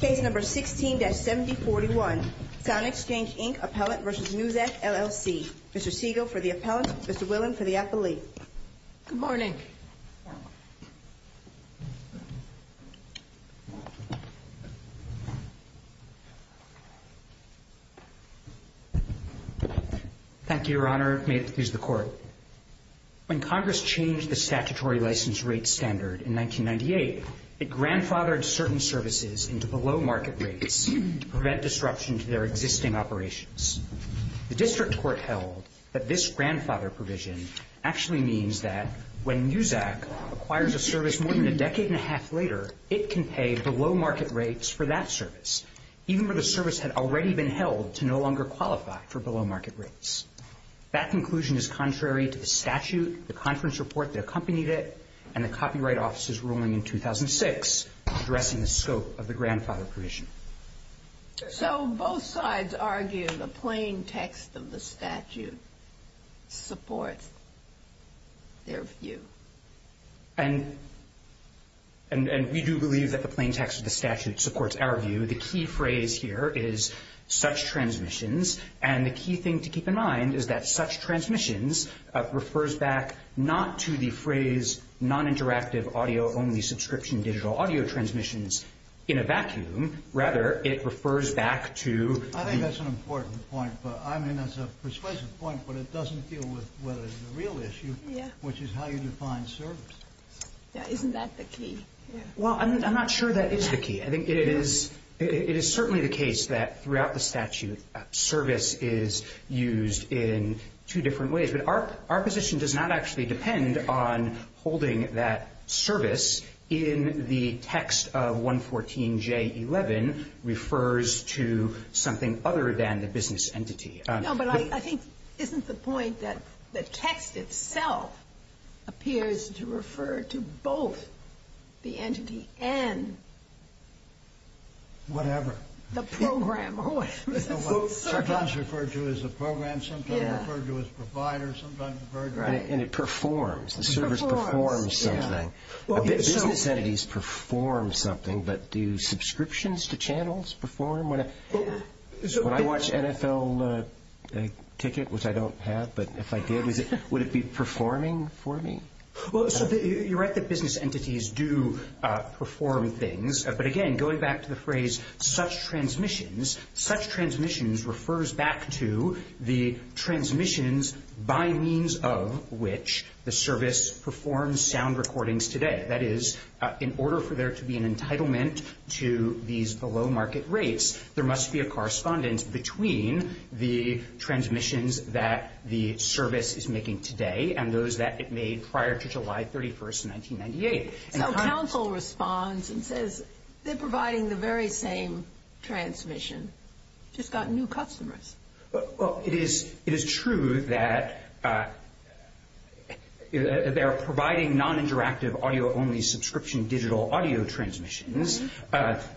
Case No. 16-7041. SoundExchange, Inc. Appellant v. Muzak, LLC. Mr. Siegel for the appellant. Mr. Willen for the appellee. Good morning. Thank you, Your Honor. May it please the Court. When Congress changed the statutory license rate standard in 1998, it grandfathered certain services into below-market rates to prevent disruption to their existing operations. The district court held that this grandfather provision actually means that when Muzak acquires a service more than a decade and a half later, it can pay below-market rates for that service, even when the service had already been held to no longer qualify for below-market rates. That conclusion is contrary to the statute, the conference report that accompanied it, and the Copyright Office's ruling in 2006 addressing the scope of the grandfather provision. So both sides argue the plain text of the statute supports their view. And we do believe that the plain text of the statute supports our view. The key phrase here is such transmissions. And the key thing to keep in mind is that such transmissions refers back not to the phrase non-interactive audio-only subscription digital audio transmissions in a vacuum. Rather, it refers back to the— I think that's an important point. I mean, that's a persuasive point, but it doesn't deal with what is the real issue, which is how you define service. Isn't that the key? Well, I'm not sure that is the key. I think it is certainly the case that throughout the statute, service is used in two different ways. But our position does not actually depend on holding that service in the text of 114J11 refers to something other than the business entity. No, but I think—isn't the point that the text itself appears to refer to both the entity and— Whatever. The program or whatever. Sometimes referred to as a program, sometimes referred to as provider, sometimes referred to— And it performs. The service performs something. Business entities perform something, but do subscriptions to channels perform? When I watch NFL ticket, which I don't have, but if I did, would it be performing for me? Well, so you're right that business entities do perform things. But again, going back to the phrase such transmissions, such transmissions refers back to the transmissions by means of which the service performs sound recordings today. That is, in order for there to be an entitlement to these below market rates, there must be a correspondence between the transmissions that the service is making today and those that it made prior to July 31st, 1998. So counsel responds and says they're providing the very same transmission, just got new customers. Well, it is true that they are providing non-interactive audio-only subscription digital audio transmissions,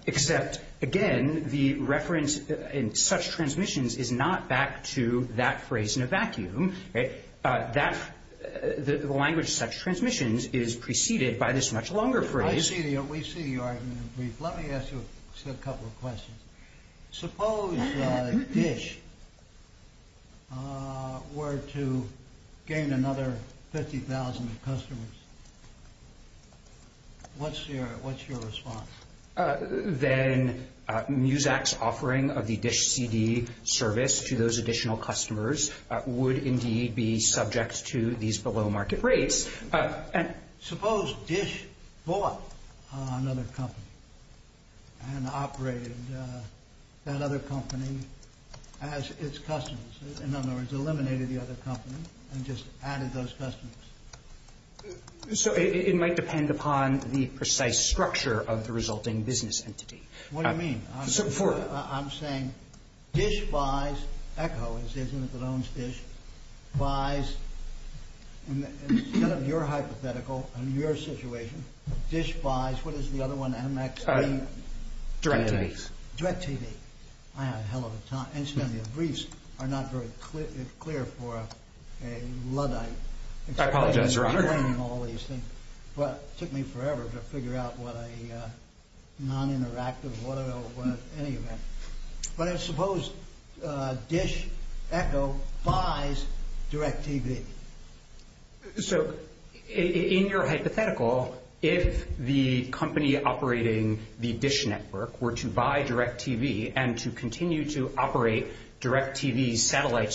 except, again, the reference in such transmissions is not back to that phrase in a vacuum. That—the language such transmissions is preceded by this much longer phrase. I see the—we see the argument in brief. Let me ask you a couple of questions. Suppose DISH were to gain another 50,000 customers. What's your response? Then MUSAC's offering of the DISH CD service to those additional customers would indeed be subject to these below market rates. Suppose DISH bought another company and operated that other company as its customers. In other words, eliminated the other company and just added those customers. So it might depend upon the precise structure of the resulting business entity. What do you mean? I'm saying DISH buys—ECHO is the entity that owns DISH—buys, instead of your hypothetical and your situation, DISH buys—what is the other one, MX? DirecTV. DirecTV. I have a hell of a time. Incidentally, the briefs are not very clear for a Luddite. I apologize, Your Honor. Well, it took me forever to figure out what a non-interactive, whatever, any event. But I suppose DISH—ECHO—buys DirecTV. So in your hypothetical, if the company operating the DISH network were to buy DirecTV and to continue to operate DirecTV's satellite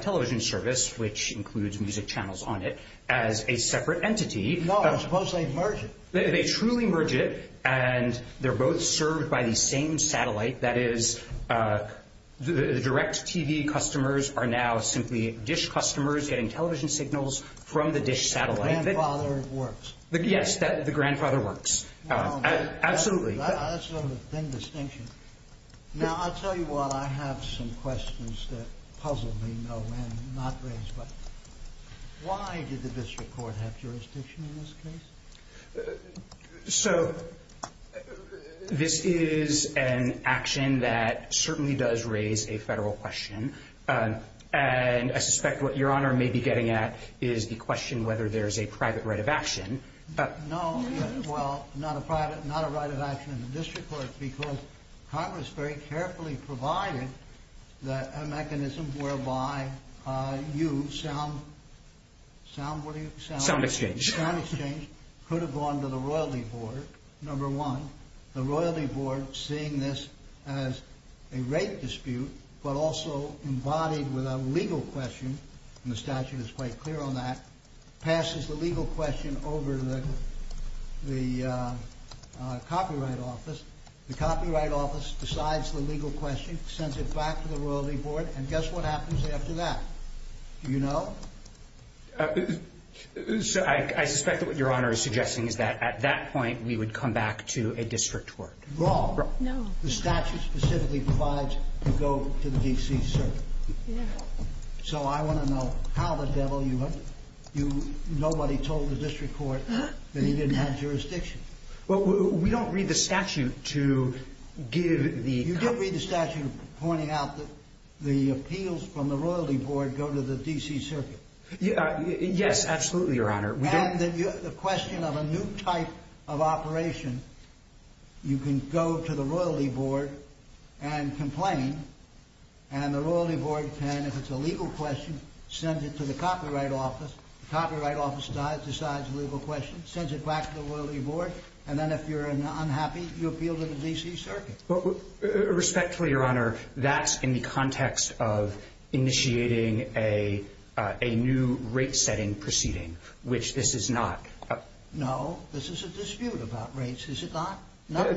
television service, which includes music channels on it, as a separate entity— No, I suppose they merge it. They truly merge it, and they're both served by the same satellite. That is, the DirecTV customers are now simply DISH customers getting television signals from the DISH satellite. The grandfather works. Yes, the grandfather works. Wow. Absolutely. That's sort of a thin distinction. Now, I'll tell you what. I have some questions that puzzle me, no end, not raised, but why did the district court have jurisdiction in this case? So this is an action that certainly does raise a federal question. And I suspect what Your Honor may be getting at is the question whether there's a private right of action. No. Well, not a private—not a right of action in the district court because Congress very carefully provided a mechanism whereby you sound—sound, what do you— Sound exchange. Sound exchange could have gone to the Royalty Board, number one. The Royalty Board, seeing this as a rape dispute but also embodied with a legal question—and the statute is quite clear on that—passes the legal question over to the Copyright Office. The Copyright Office decides the legal question, sends it back to the Royalty Board, and guess what happens after that? Do you know? I suspect that what Your Honor is suggesting is that at that point we would come back to a district court. Wrong. No. The statute specifically provides to go to the D.C. Circuit. Yes. So I want to know how the devil you have—you—nobody told the district court that he didn't have jurisdiction. Well, we don't read the statute to give the— Yes, absolutely, Your Honor. And the question of a new type of operation, you can go to the Royalty Board and complain, and the Royalty Board can, if it's a legal question, send it to the Copyright Office. The Copyright Office decides the legal question, sends it back to the Royalty Board, and then if you're unhappy, you appeal to the D.C. Circuit. Respectfully, Your Honor, that's in the context of initiating a new rate-setting proceeding, which this is not. No. This is a dispute about rates, is it not? No.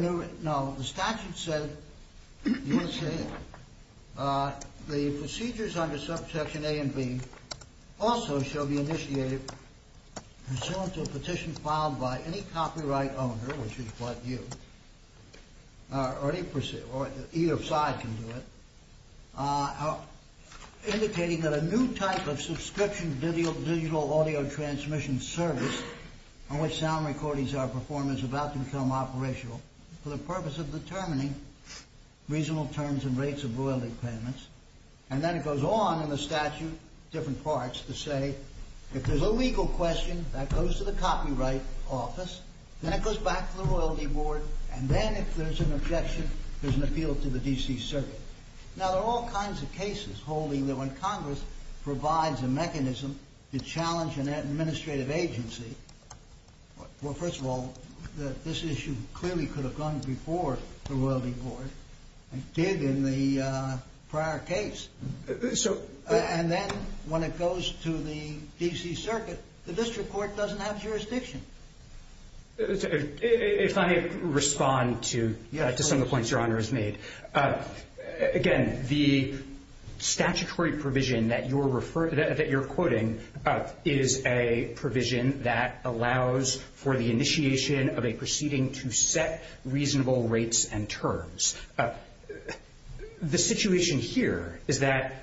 No, the statute said, let's see, the procedures under Section A and B also shall be initiated pursuant to a petition filed by any copyright owner, which is what you, or either side can do it, indicating that a new type of subscription digital audio transmission service on which sound recordings are performed is about to become operational for the purpose of determining reasonable terms and rates of royalty payments. And then it goes on in the statute, different parts, to say, if there's a legal question, that goes to the Copyright Office, then it goes back to the Royalty Board, and then if there's an objection, there's an appeal to the D.C. Circuit. Now, there are all kinds of cases holding that when Congress provides a mechanism to challenge an administrative agency, well, first of all, this issue clearly could have gone before the Royalty Board. It did in the prior case. And then when it goes to the D.C. Circuit, the District Court doesn't have jurisdiction. If I may respond to some of the points Your Honor has made, again, the statutory provision that you're quoting is a provision that allows for the initiation of a proceeding to set reasonable rates and terms. The situation here is that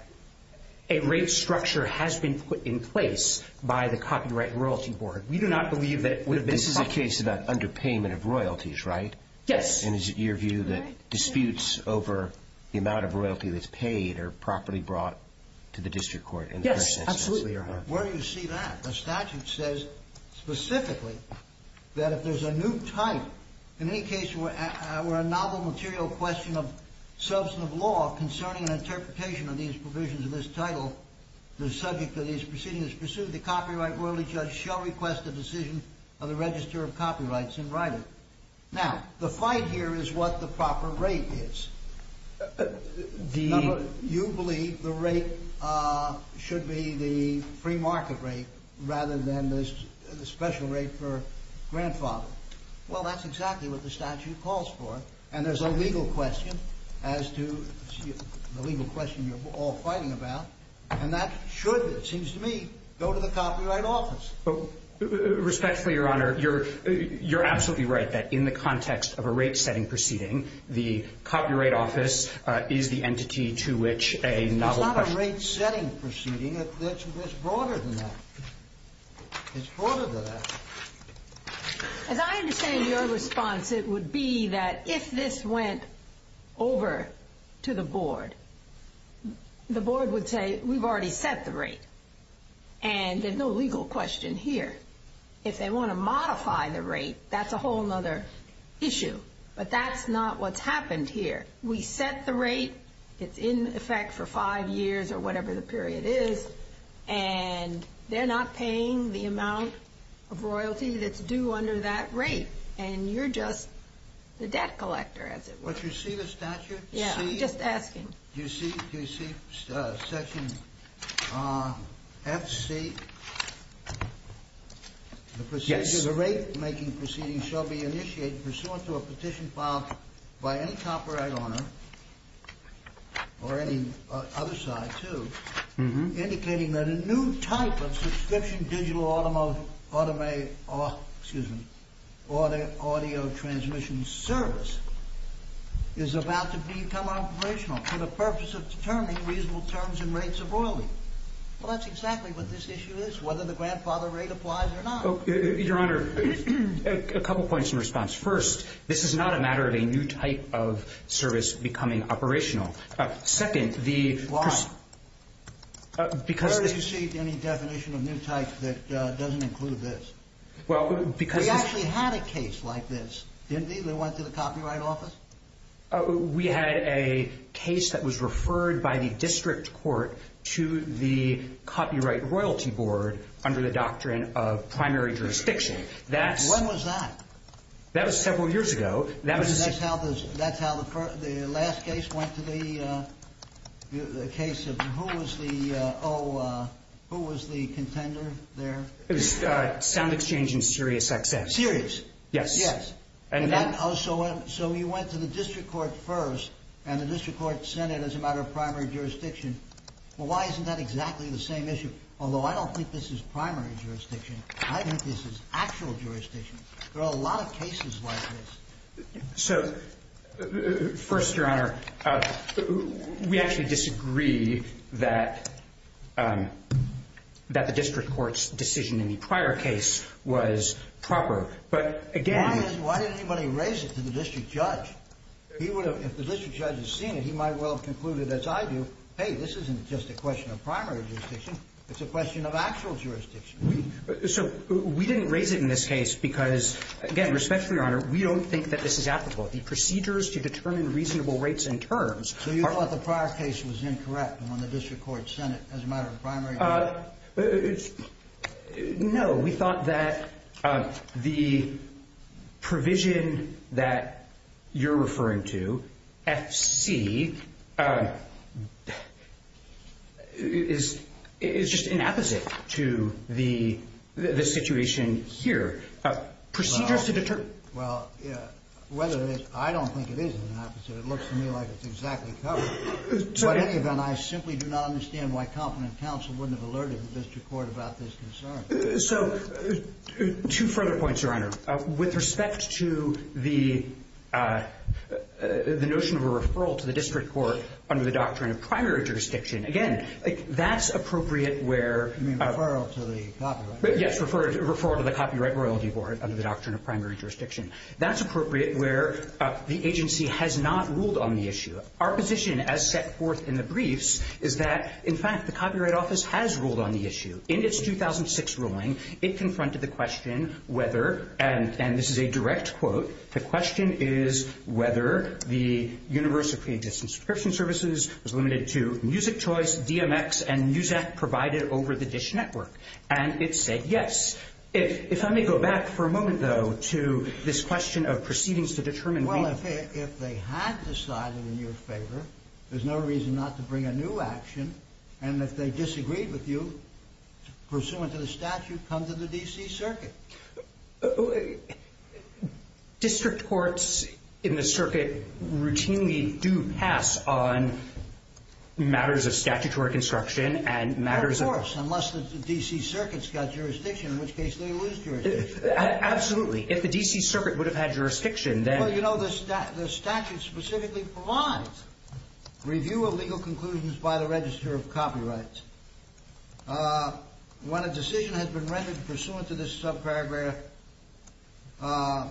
a rate structure has been put in place by the Copyright and Royalty Board. This is a case about underpayment of royalties, right? Yes. And is it your view that disputes over the amount of royalty that's paid are properly brought to the District Court? Yes, absolutely, Your Honor. Where do you see that? The statute says specifically that if there's a new type, in any case where a novel material question of substantive law concerning an interpretation of these provisions of this title, the subject of these proceedings pursued, the copyright royalty judge shall request a decision of the Register of Copyrights in writing. Now, the fight here is what the proper rate is. Do you believe the rate should be the free market rate rather than the special rate for grandfather? Well, that's exactly what the statute calls for. And there's a legal question as to the legal question you're all fighting about, and that should, it seems to me, go to the Copyright Office. Respectfully, Your Honor, you're absolutely right that in the context of a rate-setting proceeding, the Copyright Office is the entity to which a novel question of substantive law is brought. It's not a rate-setting proceeding. It's broader than that. It's broader than that. As I understand your response, it would be that if this went over to the board, the board would say, we've already set the rate. And there's no legal question here. If they want to modify the rate, that's a whole other issue. But that's not what's happened here. We set the rate. It's in effect for five years or whatever the period is. And they're not paying the amount of royalty that's due under that rate. And you're just the debt collector, as it were. But you see the statute? Yeah, I'm just asking. Do you see Section FC? Yes. The rate-making proceeding shall be initiated pursuant to a petition filed by any copyright owner or any other side, too, indicating that a new type of subscription digital audio transmission service is about to become operational for the purpose of determining reasonable terms and rates of royalty. Well, that's exactly what this issue is, whether the grandfather rate applies or not. Your Honor, a couple points in response. First, this is not a matter of a new type of service becoming operational. Why? Where do you see any definition of new type that doesn't include this? We actually had a case like this, didn't we, that went to the Copyright Office? We had a case that was referred by the district court to the Copyright Royalty Board under the doctrine of primary jurisdiction. When was that? That was several years ago. That's how the last case went to the case of who was the contender there? It was sound exchange in Sirius XX. Sirius? Yes. So you went to the district court first and the district court sent it as a matter of primary jurisdiction. Well, why isn't that exactly the same issue? Although I don't think this is primary jurisdiction. I think this is actual jurisdiction. There are a lot of cases like this. So first, Your Honor, we actually disagree that the district court's decision in the prior case was proper. Why didn't anybody raise it to the district judge? If the district judge had seen it, he might well have concluded, as I do, hey, this isn't just a question of primary jurisdiction. It's a question of actual jurisdiction. So we didn't raise it in this case because, again, respectfully, Your Honor, we don't think that this is applicable. The procedures to determine reasonable rates and terms are – So you thought the prior case was incorrect when the district court sent it as a matter of primary jurisdiction? No. We thought that the provision that you're referring to, FC, is just an opposite to the situation here. Procedures to determine – Well, whether it is – I don't think it is an opposite. It looks to me like it's exactly covered. In any event, I simply do not understand why competent counsel wouldn't have alerted the district court about this concern. So two further points, Your Honor. With respect to the notion of a referral to the district court under the doctrine of primary jurisdiction, again, that's appropriate where – You mean referral to the copyright? Yes, referral to the Copyright Royalty Board under the doctrine of primary jurisdiction. That's appropriate where the agency has not ruled on the issue. Our position, as set forth in the briefs, is that, in fact, the Copyright Office has ruled on the issue. In its 2006 ruling, it confronted the question whether – and this is a direct quote – the question is whether the University of California Distance Prescription Services was limited to music choice, DMX, and news app provided over the DISH network. And it said yes. If I may go back for a moment, though, to this question of proceedings to determine – If they had decided in your favor, there's no reason not to bring a new action. And if they disagreed with you, pursuant to the statute, come to the D.C. Circuit. District courts in the circuit routinely do pass on matters of statutory construction and matters of – Of course, unless the D.C. Circuit's got jurisdiction, in which case they lose jurisdiction. Absolutely. If the D.C. Circuit would have had jurisdiction, then – Well, you know, the statute specifically provides review of legal conclusions by the Register of Copyrights. When a decision has been rendered pursuant to this subparagraph, the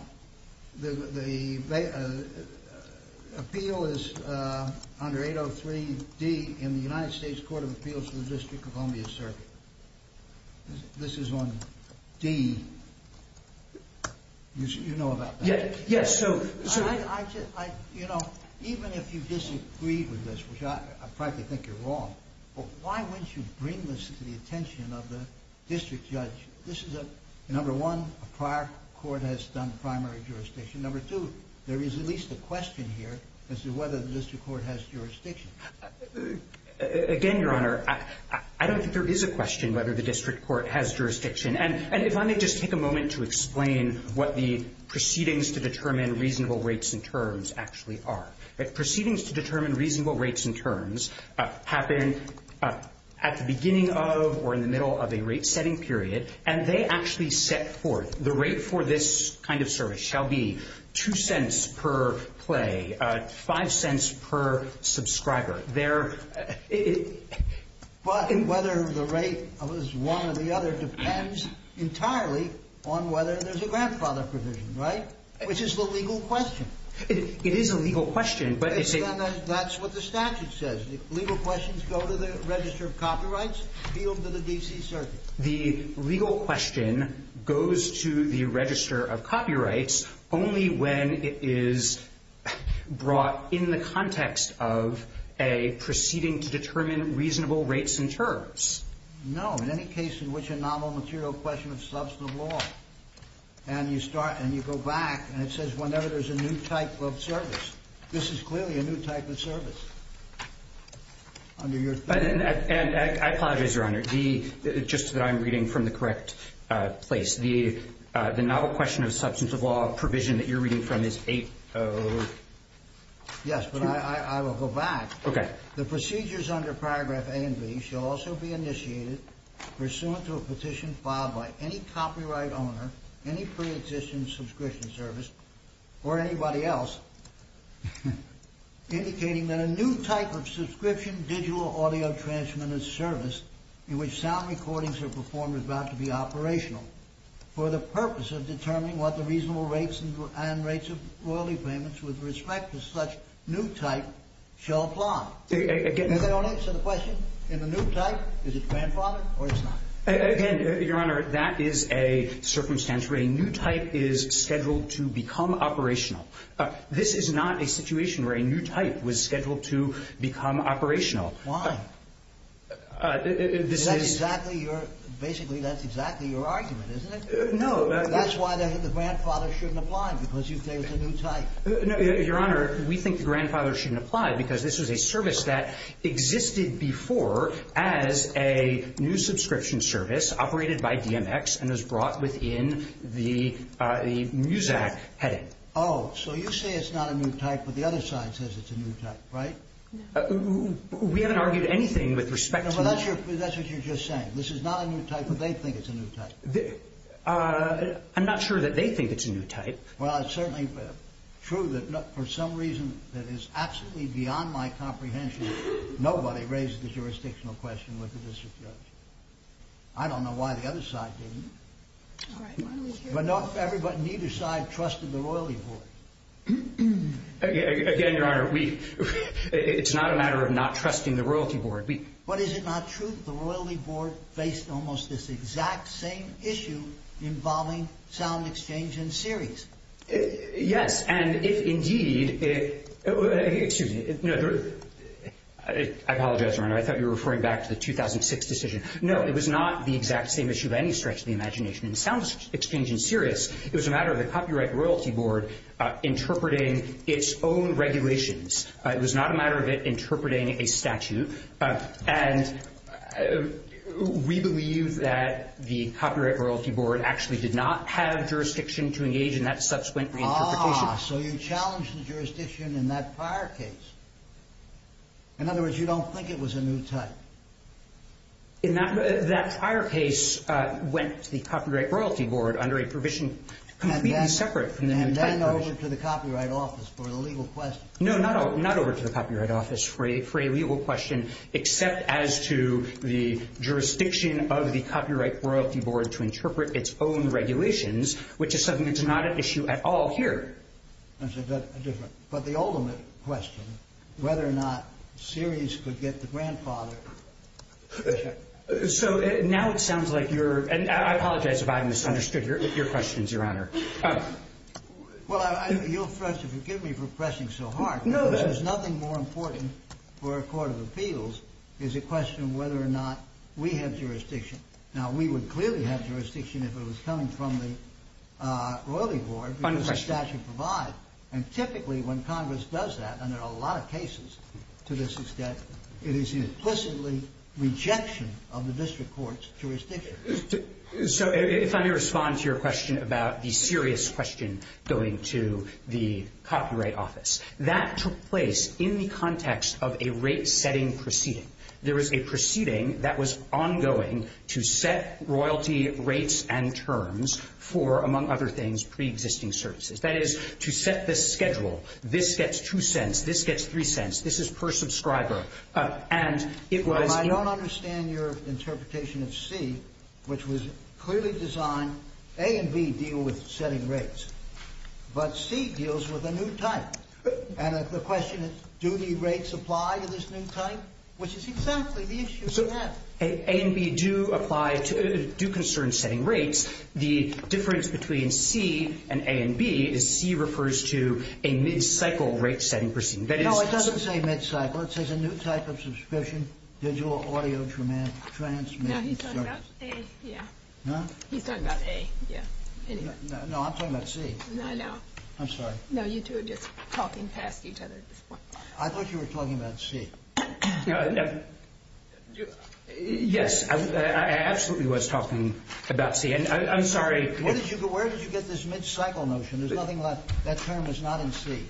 appeal is under 803D in the United States Court of Appeals for the District of Columbia Circuit. This is on D. You know about that. Yes, so – You know, even if you disagreed with this, which I frankly think you're wrong, why wouldn't you bring this to the attention of the district judge? This is a – number one, a prior court has done primary jurisdiction. Number two, there is at least a question here as to whether the district court has jurisdiction. Again, Your Honor, I don't think there is a question whether the district court has jurisdiction. And if I may just take a moment to explain what the proceedings to determine reasonable rates and terms actually are. Proceedings to determine reasonable rates and terms happen at the beginning of or in the middle of a rate-setting period, and they actually set forth the rate for this kind of service shall be 2 cents per play, 5 cents per subscriber. But whether the rate is one or the other depends entirely on whether there's a grandfather provision, right? Which is the legal question. It is a legal question, but it's a – That's what the statute says. Legal questions go to the Register of Copyrights, appealed to the D.C. Circuit. The legal question goes to the Register of Copyrights only when it is brought in the context of a proceeding to determine reasonable rates and terms. No, in any case in which a novel material question of substantive law. And you start and you go back and it says whenever there's a new type of service. This is clearly a new type of service. And I apologize, Your Honor, just that I'm reading from the correct place. The novel question of substantive law provision that you're reading from is 802. Yes, but I will go back. Okay. The procedures under Paragraph A and B shall also be initiated pursuant to a petition filed by any copyright owner, any pre-existing subscription service, or anybody else, indicating that a new type of subscription digital audio transmitted service in which sound recordings are performed is bound to be operational for the purpose of determining what the reasonable rates and rates of royalty payments with respect to such new type shall apply. Again. Does that answer the question? In the new type, is it grandfathered or is it not? Again, Your Honor, that is a circumstance where a new type is scheduled to become operational. This is not a situation where a new type was scheduled to become operational. Why? That's exactly your – basically that's exactly your argument, isn't it? No. That's why the grandfather shouldn't apply, because you say it's a new type. No, Your Honor. We think the grandfather shouldn't apply because this is a service that existed before as a new subscription service operated by DMX and was brought within the MUSAC heading. Oh, so you say it's not a new type, but the other side says it's a new type, right? No. We haven't argued anything with respect to – No, but that's what you're just saying. This is not a new type, but they think it's a new type. I'm not sure that they think it's a new type. Well, it's certainly true that for some reason that is absolutely beyond my comprehension, nobody raised the jurisdictional question with the district judge. I don't know why the other side didn't. But neither side trusted the Royalty Board. Again, Your Honor, it's not a matter of not trusting the Royalty Board. But is it not true that the Royalty Board faced almost this exact same issue involving sound exchange and Sirius? Yes, and if indeed – excuse me. I apologize, Your Honor. I thought you were referring back to the 2006 decision. No, it was not the exact same issue by any stretch of the imagination in sound exchange and Sirius. It was a matter of the Copyright Royalty Board interpreting its own regulations. It was not a matter of it interpreting a statute. And we believe that the Copyright Royalty Board actually did not have jurisdiction to engage in that subsequent reinterpretation. Ah, so you challenged the jurisdiction in that prior case. In other words, you don't think it was a new type. That prior case went to the Copyright Royalty Board under a provision completely separate from the new type provision. And then over to the Copyright Office for the legal question. No, not over to the Copyright Office for a legal question, except as to the jurisdiction of the Copyright Royalty Board to interpret its own regulations, which is something that's not at issue at all here. That's a different – but the ultimate question, whether or not Sirius could get the grandfather. So now it sounds like you're – and I apologize if I've misunderstood your questions, Your Honor. Well, I – you'll first have to forgive me for pressing so hard. No, that's – Because there's nothing more important for a court of appeals is a question of whether or not we have jurisdiction. Now, we would clearly have jurisdiction if it was coming from the Royalty Board because the statute provides. And typically when Congress does that, and there are a lot of cases to this extent, it is implicitly rejection of the district court's jurisdiction. So if I may respond to your question about the Sirius question going to the Copyright Office. That took place in the context of a rate-setting proceeding. There was a proceeding that was ongoing to set royalty rates and terms for, among other things, preexisting services. That is, to set this schedule. This gets 2 cents. This gets 3 cents. This is per subscriber. And it was – I don't understand your interpretation of C, which was clearly designed A and B deal with setting rates. But C deals with a new type. And the question is, do the rates apply to this new type? Which is exactly the issue we have. A and B do apply to – do concern setting rates. The difference between C and A and B is C refers to a mid-cycle rate-setting proceeding. No, it doesn't say mid-cycle. It says a new type of subscription, digital audio transmit service. No, he's talking about A, yeah. Huh? He's talking about A, yeah. No, I'm talking about C. I know. I'm sorry. No, you two are just talking past each other at this point. I thought you were talking about C. Yes, I absolutely was talking about C. I'm sorry. Where did you get this mid-cycle notion? There's nothing left. That term is not in C.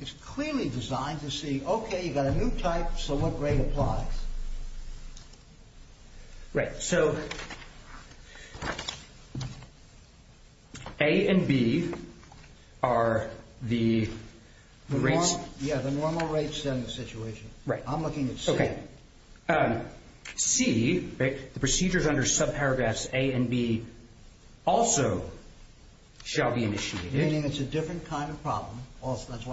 It's clearly designed to say, okay, you've got a new type, so what rate applies? Right. So A and B are the rates. Yeah, the normal rates in the situation. Right. I'm looking at C. C, the procedures under subparagraphs A and B also shall be initiated. Meaning it's a different kind of problem.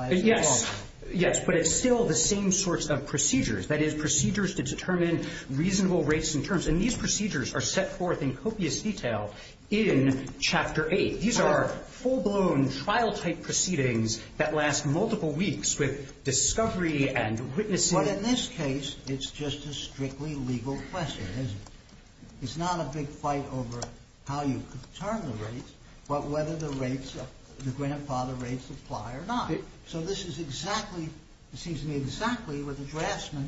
Yes. Yes, but it's still the same sorts of procedures. That is, procedures to determine reasonable rates and terms. And these procedures are set forth in copious detail in Chapter 8. These are full-blown trial-type proceedings that last multiple weeks with discovery and witnessing. But in this case, it's just a strictly legal question, isn't it? It's not a big fight over how you determine the rates, but whether the rates, the grandfather rates apply or not. So this is exactly, it seems to me exactly what the draftsman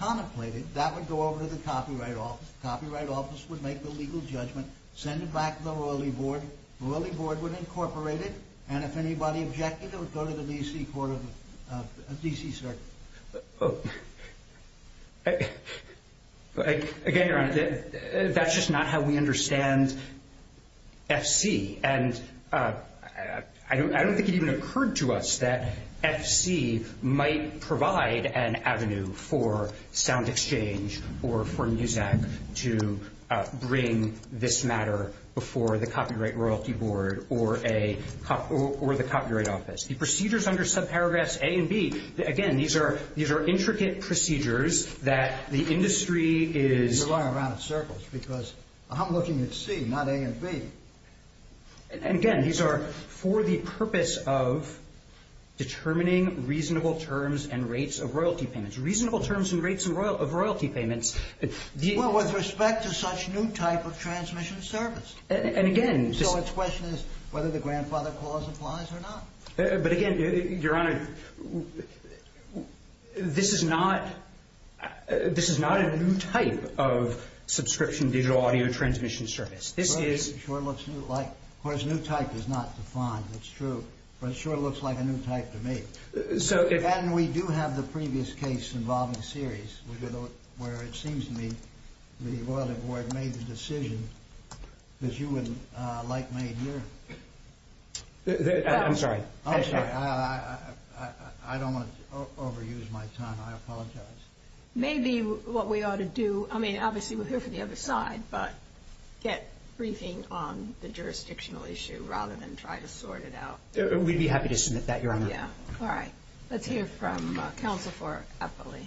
contemplated. That would go over to the Copyright Office. The Copyright Office would make the legal judgment, send it back to the Royalty Board. The Royalty Board would incorporate it, and if anybody objected, it would go to the D.C. Court of D.C., sir. Again, Your Honor, that's just not how we understand F.C. And I don't think it even occurred to us that F.C. might provide an avenue for SoundExchange or for MUSEC to bring this matter before the Copyright Royalty Board or the Copyright Office. The procedures under subparagraphs A and B, again, these are intricate procedures that the industry is… You're going around in circles because I'm looking at C, not A and B. And again, these are for the purpose of determining reasonable terms and rates of royalty payments. Reasonable terms and rates of royalty payments… Well, with respect to such new type of transmission service. And again… So its question is whether the grandfather clause applies or not. But again, Your Honor, this is not a new type of subscription digital audio transmission service. This is… It sure looks new. Of course, new type is not defined. It's true. But it sure looks like a new type to me. And we do have the previous case involving series where it seems to me the Royalty I'm sorry. I'm sorry. I don't want to overuse my time. I apologize. Maybe what we ought to do… I mean, obviously, we're here for the other side. But get briefing on the jurisdictional issue rather than try to sort it out. Yeah. All right. Let's hear from counsel for Eppley.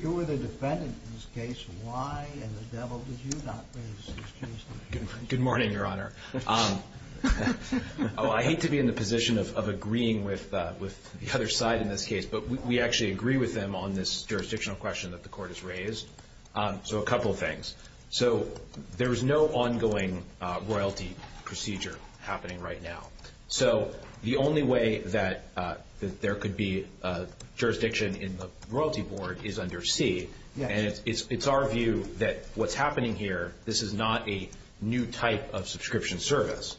You were the defendant in this case. Why in the devil did you not raise these cases? Good morning, Your Honor. Oh, I hate to be in the position of agreeing with the other side in this case. But we actually agree with them on this jurisdictional question that the court has raised. So, a couple of things. So, there is no ongoing Royalty procedure happening right now. So, the only way that there could be a jurisdiction in the Royalty Board is under C. And it's our view that what's happening here, this is not a new type of subscription service.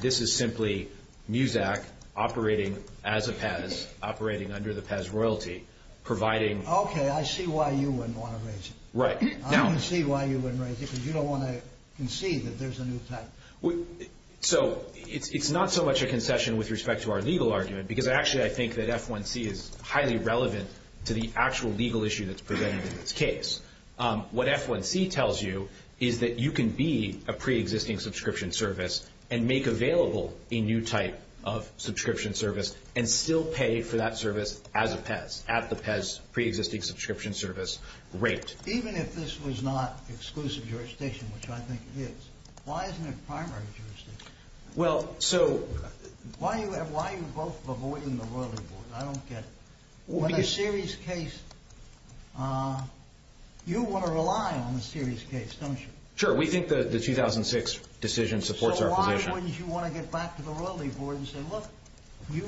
This is simply MUSAC operating as a PES, operating under the PES Royalty, providing… Okay. I see why you wouldn't want to raise it. Right. I don't see why you wouldn't raise it because you don't want to concede that there's a new type. So, it's not so much a concession with respect to our legal argument because, actually, I think that F1C is highly relevant to the actual legal issue that's presented in this case. What F1C tells you is that you can be a pre-existing subscription service and make available a new type of subscription service and still pay for that service as a PES, at the PES pre-existing subscription service rate. Even if this was not exclusive jurisdiction, which I think it is, why isn't it primary jurisdiction? Well, so… Why are you both avoiding the Royalty Board? I don't get it. In a serious case, you want to rely on the serious case, don't you? Sure. We think the 2006 decision supports our position. So, why wouldn't you want to get back to the Royalty Board and say, look, you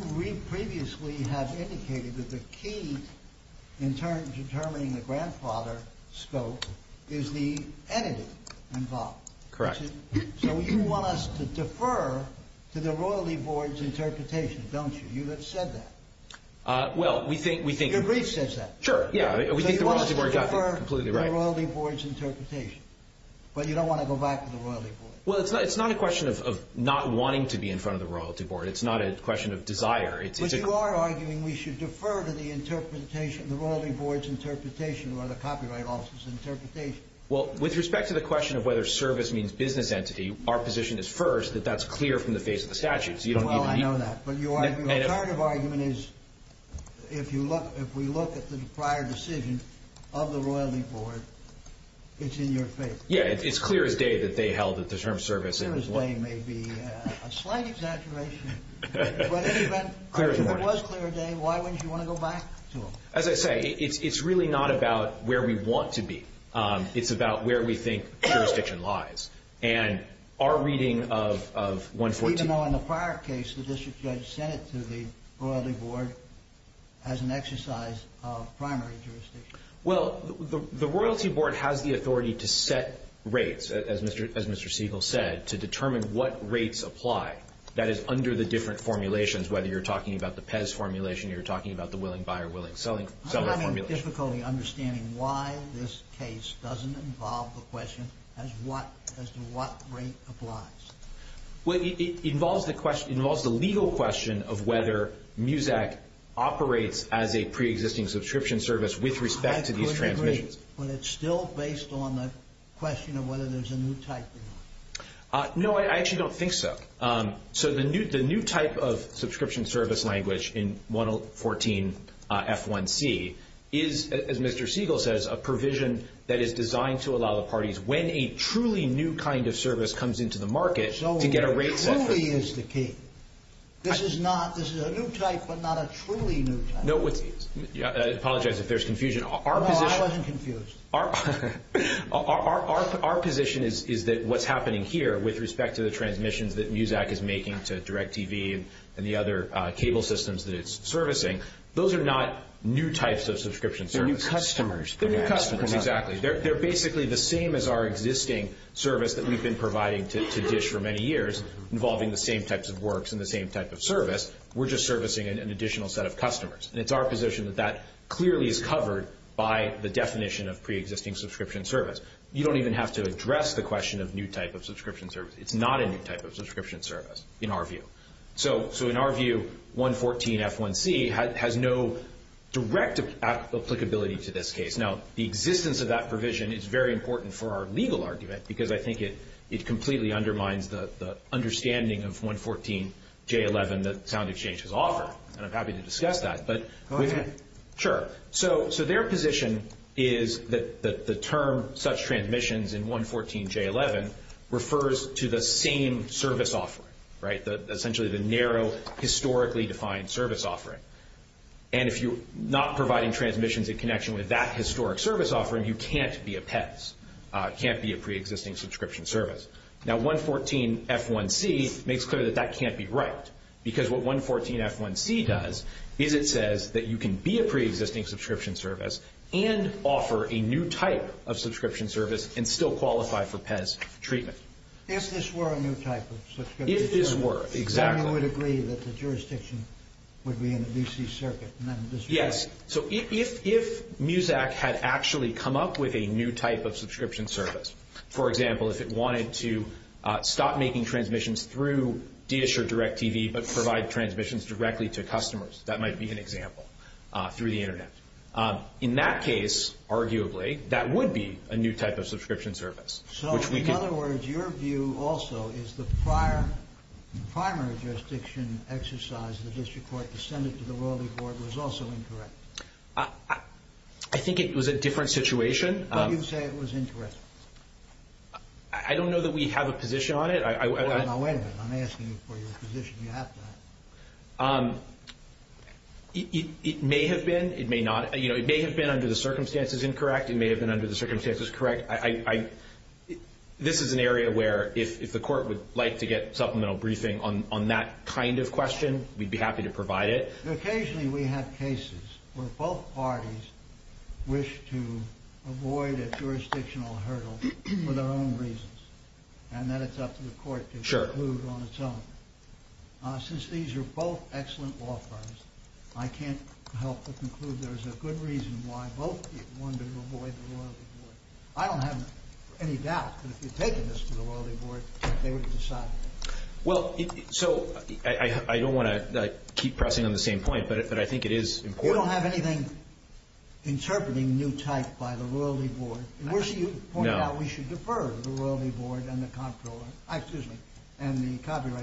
previously have indicated that the key in determining the grandfather scope is the entity involved. Correct. So, you want us to defer to the Royalty Board's interpretation, don't you? You have said that. Well, we think… Your brief says that. Sure. Yeah. We think the Royalty Board got that completely right. So, you want us to defer to the Royalty Board's interpretation, but you don't want to go back to the Royalty Board. Well, it's not a question of not wanting to be in front of the Royalty Board. It's not a question of desire. But you are arguing we should defer to the interpretation, the Royalty Board's interpretation or the Copyright Office's interpretation. Well, with respect to the question of whether service means business entity, our position is first that that's clear from the face of the statute. Well, I know that. But your alternative argument is if we look at the prior decision of the Royalty Board, it's in your favor. Yeah. It's clear as day that they held that the term of service… Clear as day may be a slight exaggeration. But if it was clear as day, why wouldn't you want to go back to them? As I say, it's really not about where we want to be. It's about where we think jurisdiction lies. And our reading of 114… Even though in the prior case, the district judge sent it to the Royalty Board as an exercise of primary jurisdiction. Well, the Royalty Board has the authority to set rates, as Mr. Siegel said, to determine what rates apply. That is, under the different formulations, whether you're talking about the PEZ formulation, you're talking about the willing-buyer-willing-seller formulation. I have difficulty understanding why this case doesn't involve the question as to what rate applies. Well, it involves the legal question of whether MUSAC operates as a pre-existing subscription service with respect to these transmissions. I couldn't agree, but it's still based on the question of whether there's a new type or not. There is, as Mr. Siegel says, a provision that is designed to allow the parties, when a truly new kind of service comes into the market, to get a rate set. So, what truly is the key? This is a new type, but not a truly new type. I apologize if there's confusion. No, I wasn't confused. Our position is that what's happening here, with respect to the transmissions that MUSAC is making to DirecTV and the other cable systems that it's servicing, those are not new types of subscription services. They're new customers. They're new customers, exactly. They're basically the same as our existing service that we've been providing to DISH for many years, involving the same types of works and the same type of service. We're just servicing an additional set of customers. And it's our position that that clearly is covered by the definition of pre-existing subscription service. You don't even have to address the question of new type of subscription service. It's not a new type of subscription service, in our view. So, in our view, 114-F1C has no direct applicability to this case. Now, the existence of that provision is very important for our legal argument, because I think it completely undermines the understanding of 114-J11 that SoundExchange has offered. And I'm happy to discuss that. Go ahead. Sure. So, their position is that the term such transmissions in 114-J11 refers to the same service offering, right? Essentially the narrow, historically defined service offering. And if you're not providing transmissions in connection with that historic service offering, you can't be a PES. It can't be a pre-existing subscription service. Now, 114-F1C makes clear that that can't be right. Because what 114-F1C does is it says that you can be a pre-existing subscription service and offer a new type of subscription service and still qualify for PES treatment. If this were a new type of subscription service. If this were, exactly. Then you would agree that the jurisdiction would be in the D.C. Circuit. Yes. So, if MUSAC had actually come up with a new type of subscription service, for example, if it wanted to stop making transmissions through DSHR Direct TV but provide transmissions directly to customers. That might be an example. Through the Internet. In that case, arguably, that would be a new type of subscription service. So, in other words, your view also is the prior, primary jurisdiction exercise, the District Court, the Senate, the Royalty Court was also incorrect. I think it was a different situation. But you say it was incorrect. I don't know that we have a position on it. Wait a minute. I'm asking you for your position. You have to. It may have been. It may not. It may have been under the circumstances incorrect. It may have been under the circumstances correct. This is an area where if the Court would like to get supplemental briefing on that kind of question, we'd be happy to provide it. Occasionally, we have cases where both parties wish to avoid a jurisdictional hurdle for their own reasons. And then it's up to the Court to conclude on its own. Since these are both excellent law firms, I can't help but conclude there's a good reason why both wanted to avoid the Royalty Court. I don't have any doubt that if you'd taken this to the Royalty Court, they would have decided it. Well, so I don't want to keep pressing on the same point, but I think it is important. You don't have anything interpreting new type by the Royalty Board. You pointed out we should defer to the Royalty Board and the Copyright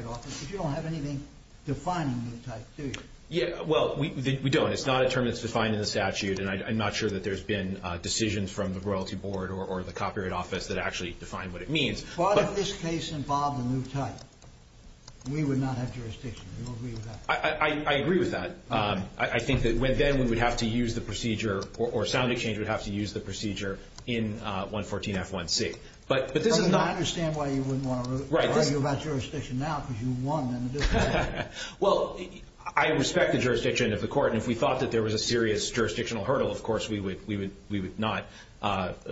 Office, but you don't have anything defining new type, do you? Well, we don't. It's not a term that's defined in the statute, and I'm not sure that there's been decisions from the Royalty Board or the Copyright Office that actually define what it means. But if this case involved a new type, we would not have jurisdiction. Do you agree with that? I agree with that. I think that then we would have to use the procedure, or sound exchange would have to use the procedure, in 114F1C. But this is not— I understand why you wouldn't want to argue about jurisdiction now, because you won. Well, I respect the jurisdiction of the Court, and if we thought that there was a serious jurisdictional hurdle, of course we would not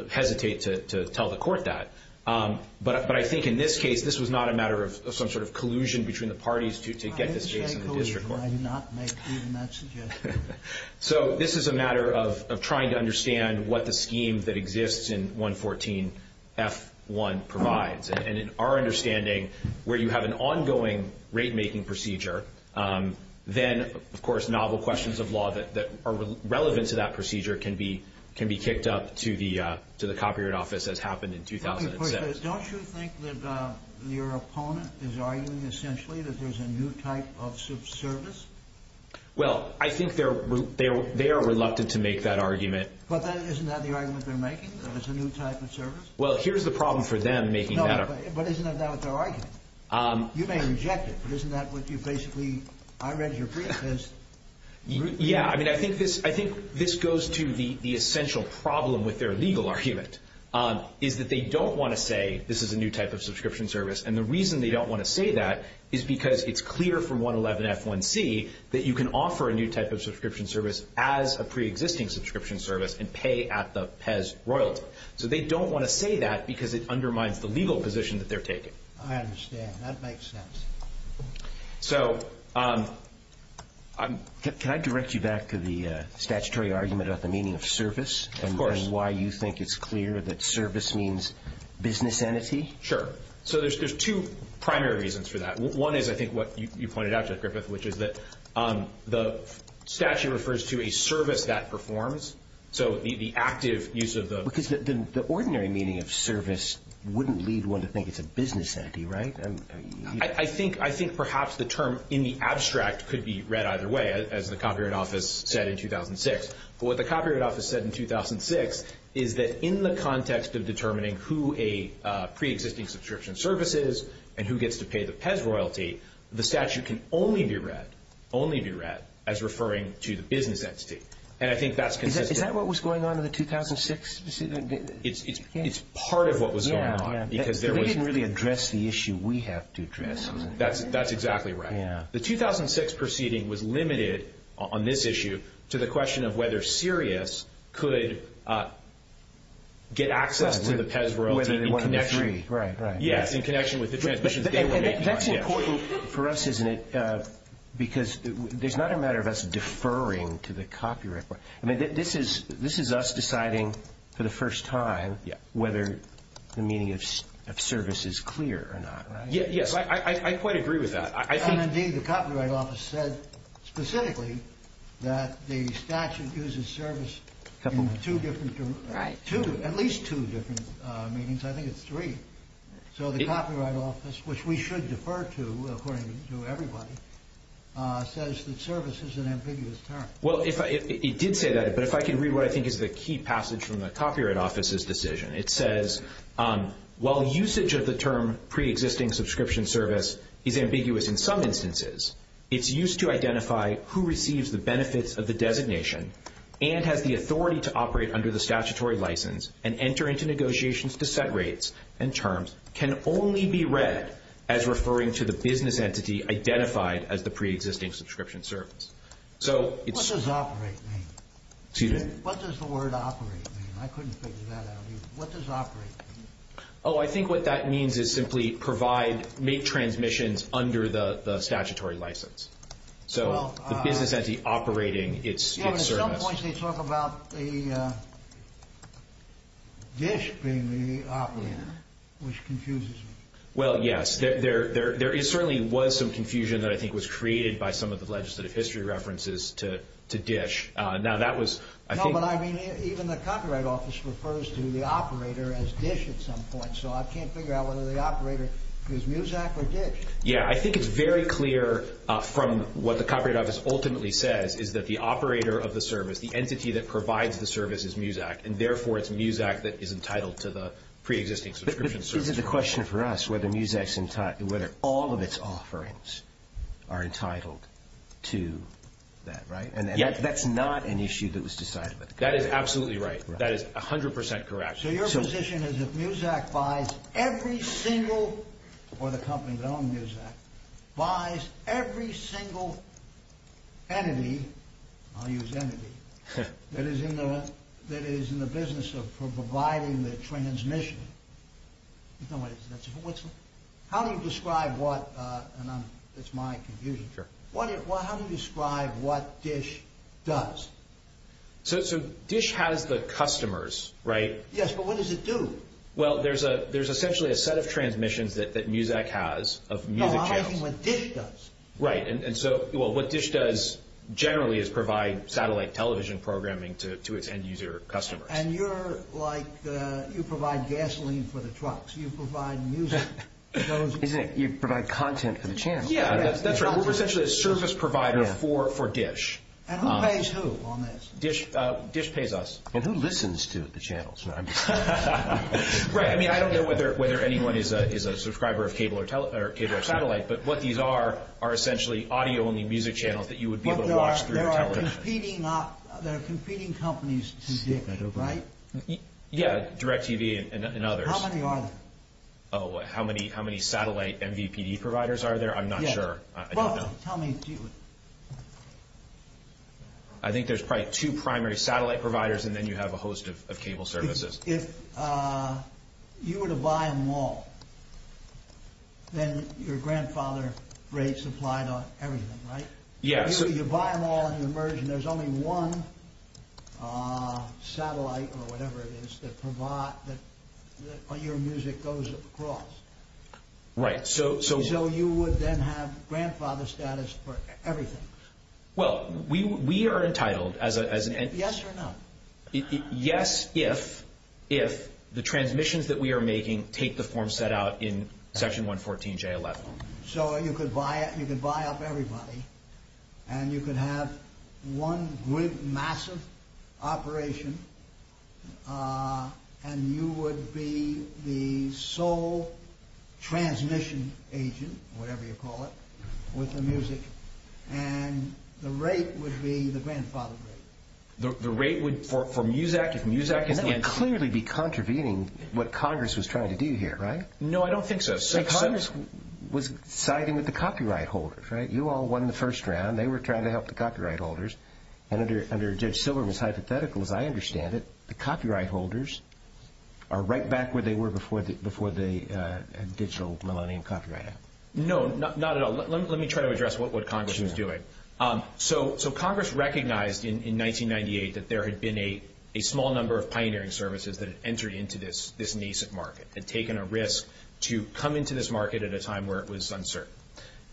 hesitate to tell the Court that. But I think in this case, this was not a matter of some sort of collusion between the parties to get this case in the district court. Why did you say collusion? I'm not making that suggestion. So this is a matter of trying to understand what the scheme that exists in 114F1 provides. And in our understanding, where you have an ongoing rate-making procedure, then, of course, novel questions of law that are relevant to that procedure can be kicked up to the Copyright Office, as happened in 2007. Don't you think that your opponent is arguing, essentially, that there's a new type of service? Well, I think they are reluctant to make that argument. But isn't that the argument they're making, that it's a new type of service? Well, here's the problem for them making that argument. But isn't that not what they're arguing? You may reject it, but isn't that what you basically – I read your brief as – Yeah, I mean, I think this goes to the essential problem with their legal argument, is that they don't want to say this is a new type of subscription service. And the reason they don't want to say that is because it's clear from 111F1C that you can offer a new type of subscription service as a preexisting subscription service and pay at the PES royalty. So they don't want to say that because it undermines the legal position that they're taking. I understand. That makes sense. So I'm – Can I direct you back to the statutory argument about the meaning of service? Of course. And why you think it's clear that service means business entity? Sure. So there's two primary reasons for that. One is, I think, what you pointed out, Jeff Griffith, which is that the statute refers to a service that performs. So the active use of the – Because the ordinary meaning of service wouldn't lead one to think it's a business entity, right? I think perhaps the term in the abstract could be read either way, as the Copyright Office said in 2006. But what the Copyright Office said in 2006 is that in the context of determining who a preexisting subscription service is and who gets to pay the PES royalty, the statute can only be read – only be read – as referring to the business entity. And I think that's consistent. Is that what was going on in the 2006 – It's part of what was going on because there was – They didn't really address the issue we have to address. That's exactly right. The 2006 proceeding was limited on this issue to the question of whether Sirius could get access to the PES royalty in connection – Whether they wanted to be free. Right, right. Yes, in connection with the transmissions they were making. That's important for us, isn't it? Because there's not a matter of us deferring to the Copyright – I mean, this is us deciding for the first time whether the meaning of service is clear or not, right? Yes, I quite agree with that. Indeed, the Copyright Office said specifically that the statute uses service in two different – Right. At least two different meanings. I think it's three. So the Copyright Office, which we should defer to according to everybody, says that service is an ambiguous term. Well, it did say that, but if I could read what I think is the key passage from the Copyright Office's decision. It says, while usage of the term pre-existing subscription service is ambiguous in some instances, it's used to identify who receives the benefits of the designation and has the authority to operate under the statutory license and enter into negotiations to set rates and terms, can only be read as referring to the business entity identified as the pre-existing subscription service. So it's – What does operate mean? Excuse me? What does the word operate mean? I couldn't figure that out either. What does operate mean? Oh, I think what that means is simply provide – make transmissions under the statutory license. So the business entity operating its service – DISH being the operator, which confuses me. Well, yes. There certainly was some confusion that I think was created by some of the legislative history references to DISH. Now, that was – No, but I mean, even the Copyright Office refers to the operator as DISH at some point, so I can't figure out whether the operator is MUSAC or DISH. Yeah, I think it's very clear from what the Copyright Office ultimately says is that the operator of the service, the entity that provides the service, is MUSAC, and therefore it's MUSAC that is entitled to the pre-existing subscription service. But this is the question for us, whether MUSAC's – whether all of its offerings are entitled to that, right? Yeah. And that's not an issue that was decided by the Copyright Office. That is absolutely right. That is 100 percent correct. So your position is if MUSAC buys every single – or the company that owns MUSAC – buys every single entity – I'll use entity – that is in the business of providing the transmission, how do you describe what – and that's my confusion – how do you describe what DISH does? So DISH has the customers, right? Yes, but what does it do? Well, there's essentially a set of transmissions that MUSAC has of music channels. I'm asking what DISH does. Right, and so – well, what DISH does generally is provide satellite television programming to its end-user customers. And you're like – you provide gasoline for the trucks. You provide music. You provide content for the channels. Yeah, that's right. We're essentially a service provider for DISH. And who pays who on this? DISH pays us. And who listens to the channels? Right, I mean, I don't know whether anyone is a subscriber of cable or satellite, but what these are are essentially audio-only music channels that you would be able to watch through your television. But there are competing companies, right? Yeah, DirecTV and others. How many are there? Oh, how many satellite MVPD providers are there? I'm not sure. I don't know. Well, tell me. I think there's probably two primary satellite providers, and then you have a host of cable services. If you were to buy them all, then your grandfather rates apply to everything, right? Yeah. So you buy them all and you merge, and there's only one satellite or whatever it is that your music goes across. Right, so – And you then have grandfather status for everything. Well, we are entitled as an – Yes or no? Yes, if the transmissions that we are making take the form set out in Section 114J11. So you could buy up everybody, and you could have one massive operation, and you would be the sole transmission agent, whatever you call it, with the music, and the rate would be the grandfather rate. The rate would, for Muzak, if Muzak – That would clearly be contravening what Congress was trying to do here, right? No, I don't think so. Congress was siding with the copyright holders, right? You all won the first round. They were trying to help the copyright holders. And under Judge Silverman's hypothetical, as I understand it, the copyright holders are right back where they were before the digital millennium copyright act. No, not at all. Let me try to address what Congress was doing. Sure. So Congress recognized in 1998 that there had been a small number of pioneering services that had entered into this nascent market and taken a risk to come into this market at a time where it was uncertain.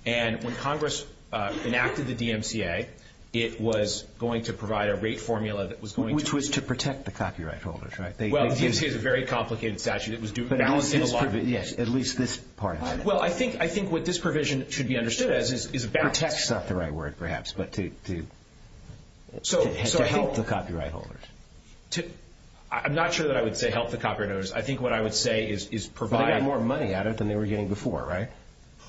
And when Congress enacted the DMCA, it was going to provide a rate formula that was going to – Which was to protect the copyright holders, right? Well, the DMCA is a very complicated statute. It was balancing a lot of – Yes, at least this part of it. Well, I think what this provision should be understood as is about – Protect is not the right word, perhaps, but to help the copyright holders. I'm not sure that I would say help the copyright holders. I think what I would say is provide – But they got more money out of it than they were getting before, right?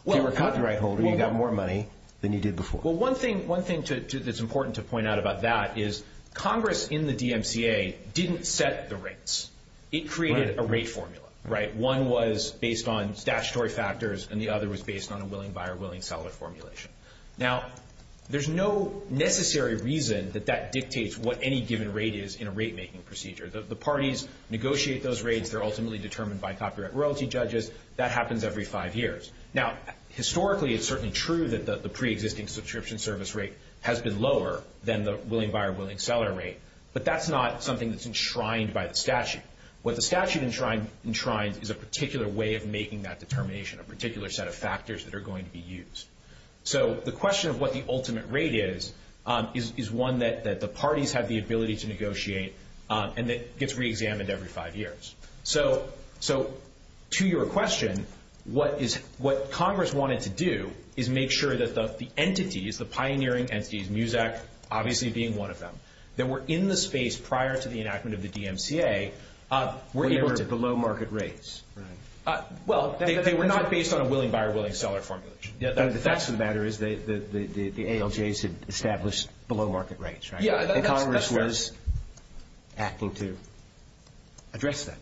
If you were a copyright holder, you got more money than you did before. Well, one thing that's important to point out about that is Congress in the DMCA didn't set the rates. It created a rate formula, right? One was based on statutory factors, and the other was based on a willing buyer, willing seller formulation. Now, there's no necessary reason that that dictates what any given rate is in a rate-making procedure. The parties negotiate those rates. They're ultimately determined by copyright royalty judges. That happens every five years. Now, historically, it's certainly true that the preexisting subscription service rate has been lower than the willing buyer, willing seller rate, but that's not something that's enshrined by the statute. What the statute enshrines is a particular way of making that determination, a particular set of factors that are going to be used. So the question of what the ultimate rate is is one that the parties have the ability to negotiate, and it gets reexamined every five years. So to your question, what Congress wanted to do is make sure that the entities, the pioneering entities, MUSEC obviously being one of them, that were in the space prior to the enactment of the DMCA were able to— Were they below market rates? Well, they were not based on a willing buyer, willing seller formulation. The facts of the matter is the ALJs had established below market rates, right? Yeah, that's fair. And Congress was acting to address that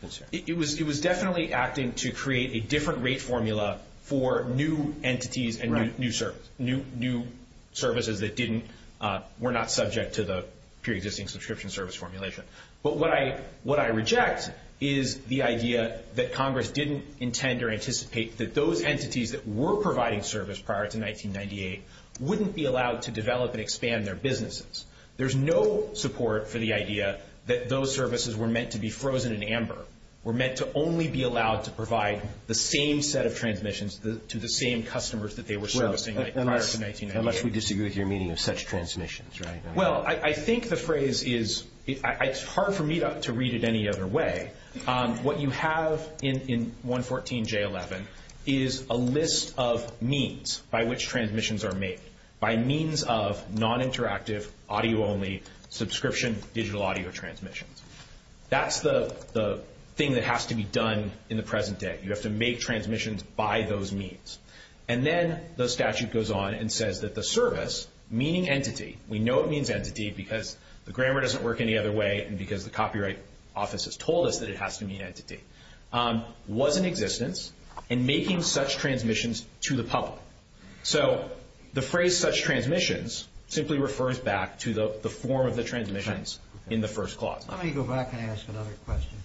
concern. It was definitely acting to create a different rate formula for new entities and new services that were not subject to the preexisting subscription service formulation. But what I reject is the idea that Congress didn't intend or anticipate that those entities that were providing service prior to 1998 wouldn't be allowed to develop and expand their businesses. There's no support for the idea that those services were meant to be frozen in amber, were meant to only be allowed to provide the same set of transmissions to the same customers that they were servicing prior to 1998. Unless we disagree with your meaning of such transmissions, right? Well, I think the phrase is—it's hard for me to read it any other way. What you have in 114J11 is a list of means by which transmissions are made, by means of non-interactive, audio-only, subscription digital audio transmissions. That's the thing that has to be done in the present day. You have to make transmissions by those means. And then the statute goes on and says that the service, meaning entity— we know it means entity because the grammar doesn't work any other way and because the copyright office has told us that it has to mean entity— was in existence in making such transmissions to the public. So the phrase such transmissions simply refers back to the form of the transmissions in the first clause. Let me go back and ask another question.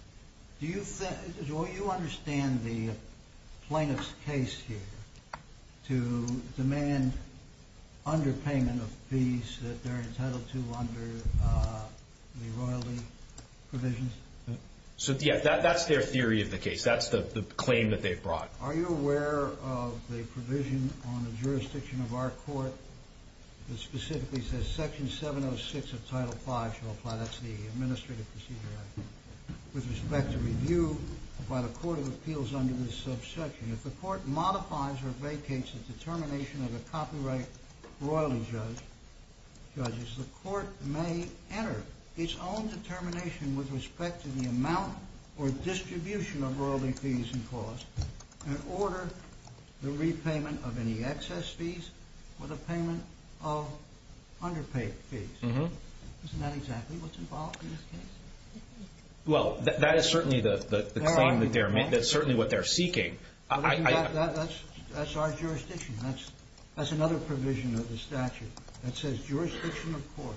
Do you understand the plaintiff's case here to demand underpayment of fees that they're entitled to under the royalty provisions? So, yeah, that's their theory of the case. That's the claim that they've brought. Are you aware of the provision on the jurisdiction of our court that specifically says Section 706 of Title V shall apply—that's the Administrative Procedure Act— with respect to review by the Court of Appeals under this subsection? If the court modifies or vacates the determination of a copyright royalty judge, judges, the court may enter its own determination with respect to the amount or distribution of royalty fees and costs and order the repayment of any excess fees or the payment of underpaid fees. Isn't that exactly what's involved in this case? Well, that is certainly the claim that they're—that's certainly what they're seeking. That's our jurisdiction. That's another provision of the statute that says jurisdiction of court.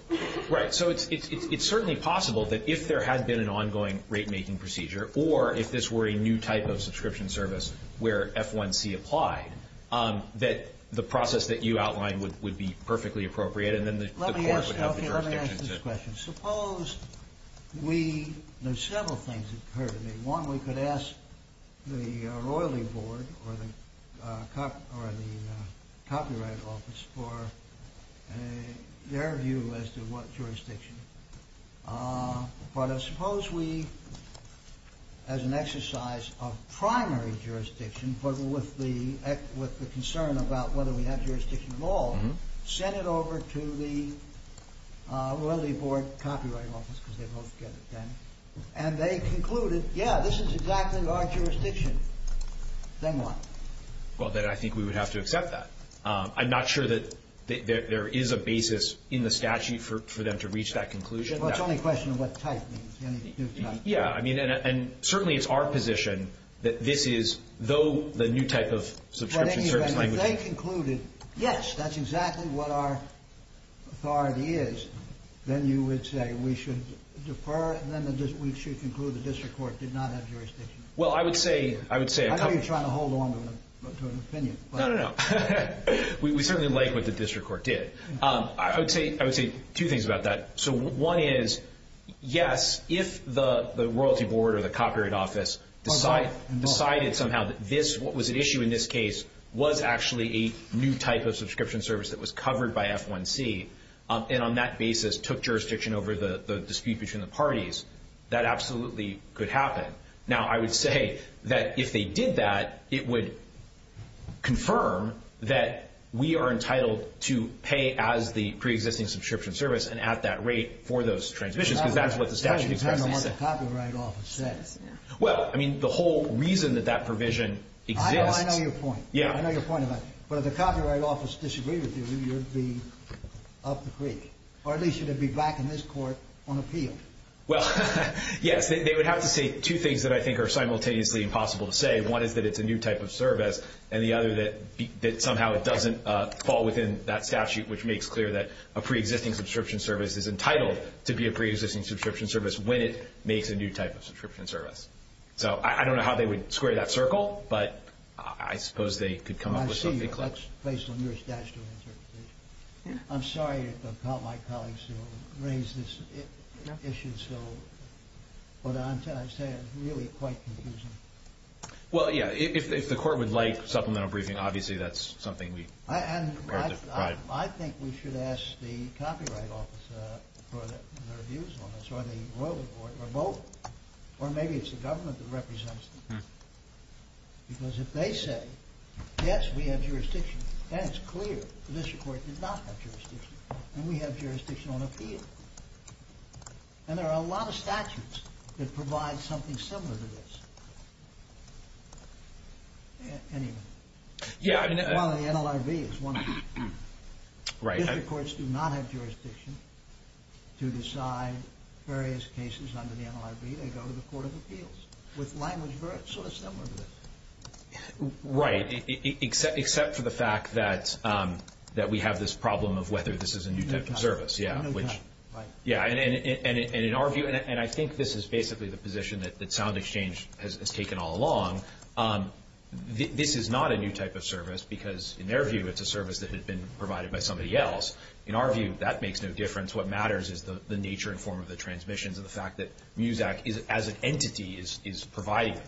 Right. So it's certainly possible that if there had been an ongoing rate-making procedure or if this were a new type of subscription service where F1C applied, that the process that you outlined would be perfectly appropriate and then the court would have the jurisdiction to— We—there's several things that occurred to me. One, we could ask the Royalty Board or the Copyright Office for their view as to what jurisdiction. But I suppose we, as an exercise of primary jurisdiction, but with the concern about whether we have jurisdiction at all, sent it over to the Royalty Board Copyright Office, because they both get it then, and they concluded, yeah, this is exactly our jurisdiction. Then what? Well, then I think we would have to accept that. I'm not sure that there is a basis in the statute for them to reach that conclusion. Well, it's only a question of what type means. Yeah, I mean, and certainly it's our position that this is, though the new type of subscription service language— Yes, that's exactly what our authority is. Then you would say we should defer, then we should conclude the district court did not have jurisdiction. Well, I would say— I know you're trying to hold on to an opinion. No, no, no. We certainly like what the district court did. I would say two things about that. So one is, yes, if the Royalty Board or the Copyright Office decided somehow that this, what was at issue in this case, was actually a new type of subscription service that was covered by F1C, and on that basis took jurisdiction over the dispute between the parties, that absolutely could happen. Now, I would say that if they did that, it would confirm that we are entitled to pay as the preexisting subscription service and at that rate for those transmissions, because that's what the statute expressly says. That would depend on what the Copyright Office says. Well, I mean, the whole reason that that provision exists— I know your point. Yeah. I know your point about it. But if the Copyright Office disagreed with you, you'd be up the creek. Or at least you'd be back in this court on appeal. Well, yes. They would have to say two things that I think are simultaneously impossible to say. One is that it's a new type of service, and the other that somehow it doesn't fall within that statute, which makes clear that a preexisting subscription service is entitled to be a preexisting subscription service when it makes a new type of subscription service. So I don't know how they would square that circle, but I suppose they could come up with something. I see you. That's based on your statutory interpretation. I'm sorry to call my colleagues to raise this issue, so what I'm trying to say is really quite confusing. Well, yeah. If the Court would like supplemental briefing, obviously that's something we prepared to provide. I think we should ask the Copyright Office for their views on this, or the Royal Court, or both. Or maybe it's the government that represents them. Because if they say, yes, we have jurisdiction, then it's clear that this Court did not have jurisdiction, and we have jurisdiction on appeal. And there are a lot of statutes that provide something similar to this. Anyway. Yeah. Well, the NLRB is one of them. Right. District courts do not have jurisdiction to decide various cases under the NLRB. They go to the Court of Appeals with language very sort of similar to this. Right, except for the fact that we have this problem of whether this is a new type of service. New type. Yeah. And in our view, and I think this is basically the position that SoundExchange has taken all along, this is not a new type of service because, in their view, it's a service that had been provided by somebody else. In our view, that makes no difference. What matters is the nature and form of the transmissions and the fact that MUSAC, as an entity, is provided.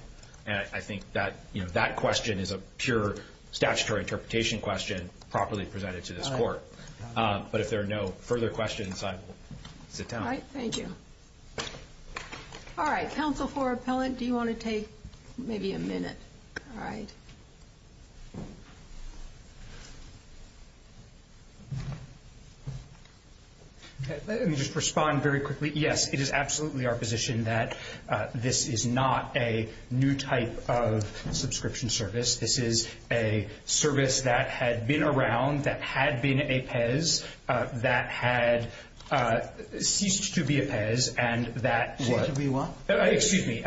And I think that question is a pure statutory interpretation question properly presented to this Court. But if there are no further questions, I will sit down. All right. Thank you. All right. Counsel for Appellant, do you want to take maybe a minute? All right. Let me just respond very quickly. Yes, it is absolutely our position that this is not a new type of subscription service. This is a service that had been around, that had been a PES, that had ceased to be a PES, and that- Ceased to be what? Excuse me.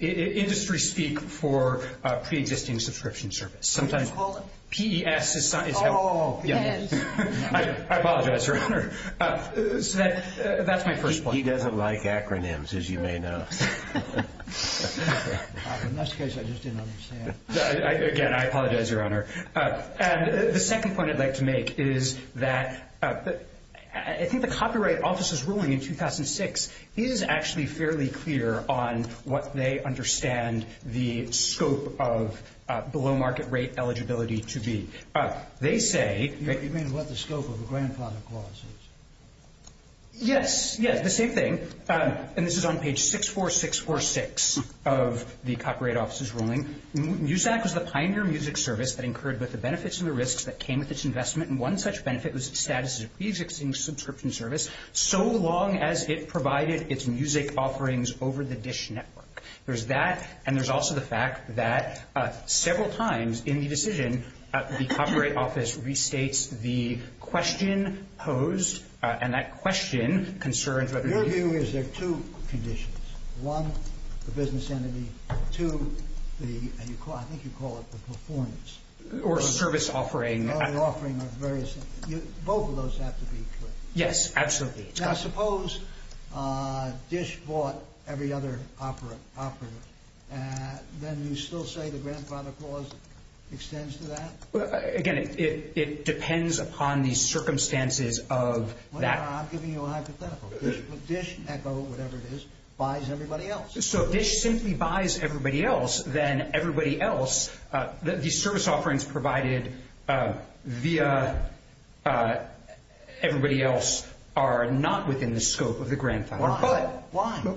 Industry speak for pre-existing subscription service. Can you just hold it? P-E-S is how- Oh, P-E-S. I apologize, Your Honor. So that's my first point. He doesn't like acronyms, as you may know. In this case, I just didn't understand. Again, I apologize, Your Honor. And the second point I'd like to make is that I think the Copyright Office's ruling in 2006 is actually fairly clear on what they understand the scope of below market rate eligibility to be. They say- You mean what the scope of the Grandfather Clause is? Yes. Yes, the same thing. And this is on page 64646 of the Copyright Office's ruling. MUSAC was the pioneer music service that incurred both the benefits and the risks that came with its investment, and one such benefit was its status as a pre-existing subscription service so long as it provided its music offerings over the DISH network. There's that, and there's also the fact that several times in the decision, the Copyright Office restates the question posed, and that question concerns- Your view is there are two conditions. One, the business entity. Two, the- I think you call it the performance. Or service offering. Or the offering of various things. Both of those have to be clear. Yes, absolutely. Now, suppose DISH bought every other operator. Then you still say the Grandfather Clause extends to that? Again, it depends upon the circumstances of that- I'm giving you a hypothetical. DISH, ECHO, whatever it is, buys everybody else. So if DISH simply buys everybody else, then everybody else, the service offerings provided via everybody else are not within the scope of the Grandfather Clause. Why?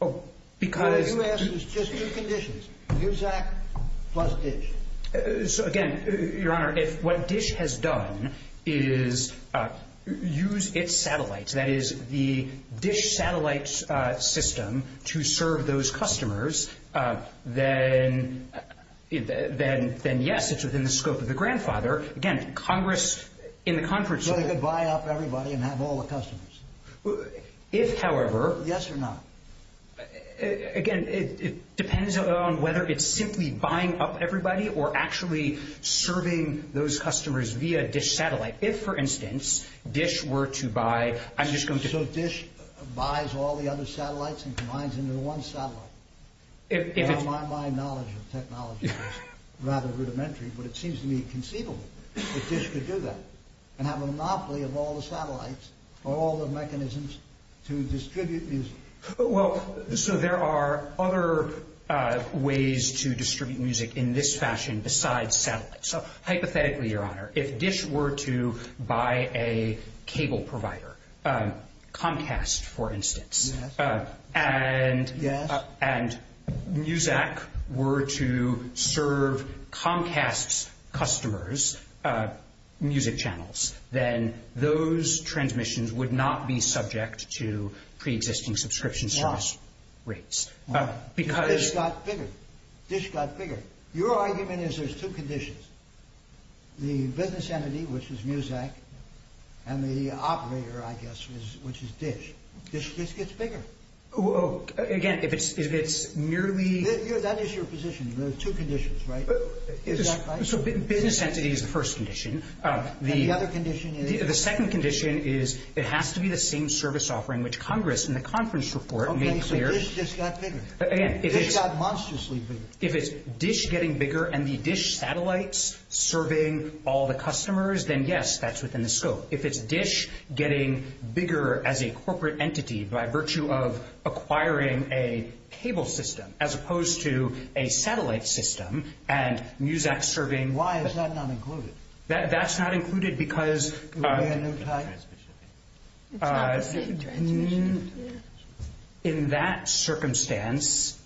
Why? Because- No, you asked, it was just two conditions. MUSAC plus DISH. So, again, Your Honor, if what DISH has done is use its satellites, that is, the DISH satellite system to serve those customers, then yes, it's within the scope of the Grandfather. Again, Congress in the- So they could buy up everybody and have all the customers. If, however- Yes or no? Again, it depends on whether it's simply buying up everybody or actually serving those customers via DISH satellite. If, for instance, DISH were to buy- So DISH buys all the other satellites and combines them into one satellite? My knowledge of technology is rather rudimentary, but it seems to me conceivable that DISH could do that and have a monopoly of all the satellites or all the mechanisms to distribute music. Well, so there are other ways to distribute music in this fashion besides satellites. So, hypothetically, Your Honor, if DISH were to buy a cable provider, Comcast, for instance, and MUSAC were to serve Comcast's customers music channels, then those transmissions would not be subject to preexisting subscription service rates. DISH got bigger. DISH got bigger. Your argument is there's two conditions. The business entity, which is MUSAC, and the operator, I guess, which is DISH. DISH just gets bigger. Again, if it's merely- That is your position. There are two conditions, right? Is that right? So business entity is the first condition. And the other condition is? The second condition is it has to be the same service offering which Congress in the conference report made clear- Again, if it's- DISH got monstrously bigger. If it's DISH getting bigger and the DISH satellites serving all the customers, then yes, that's within the scope. If it's DISH getting bigger as a corporate entity by virtue of acquiring a cable system as opposed to a satellite system and MUSAC serving- Why is that not included? That's not included because- It's not the same transmission. In that circumstance,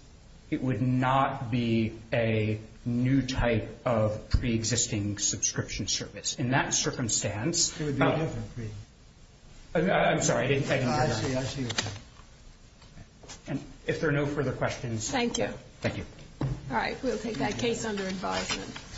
it would not be a new type of pre-existing subscription service. In that circumstance- It would be a different pre- I'm sorry, I didn't hear that. No, I see what you're saying. If there are no further questions- Thank you. Thank you. All right, we'll take that case under advisement.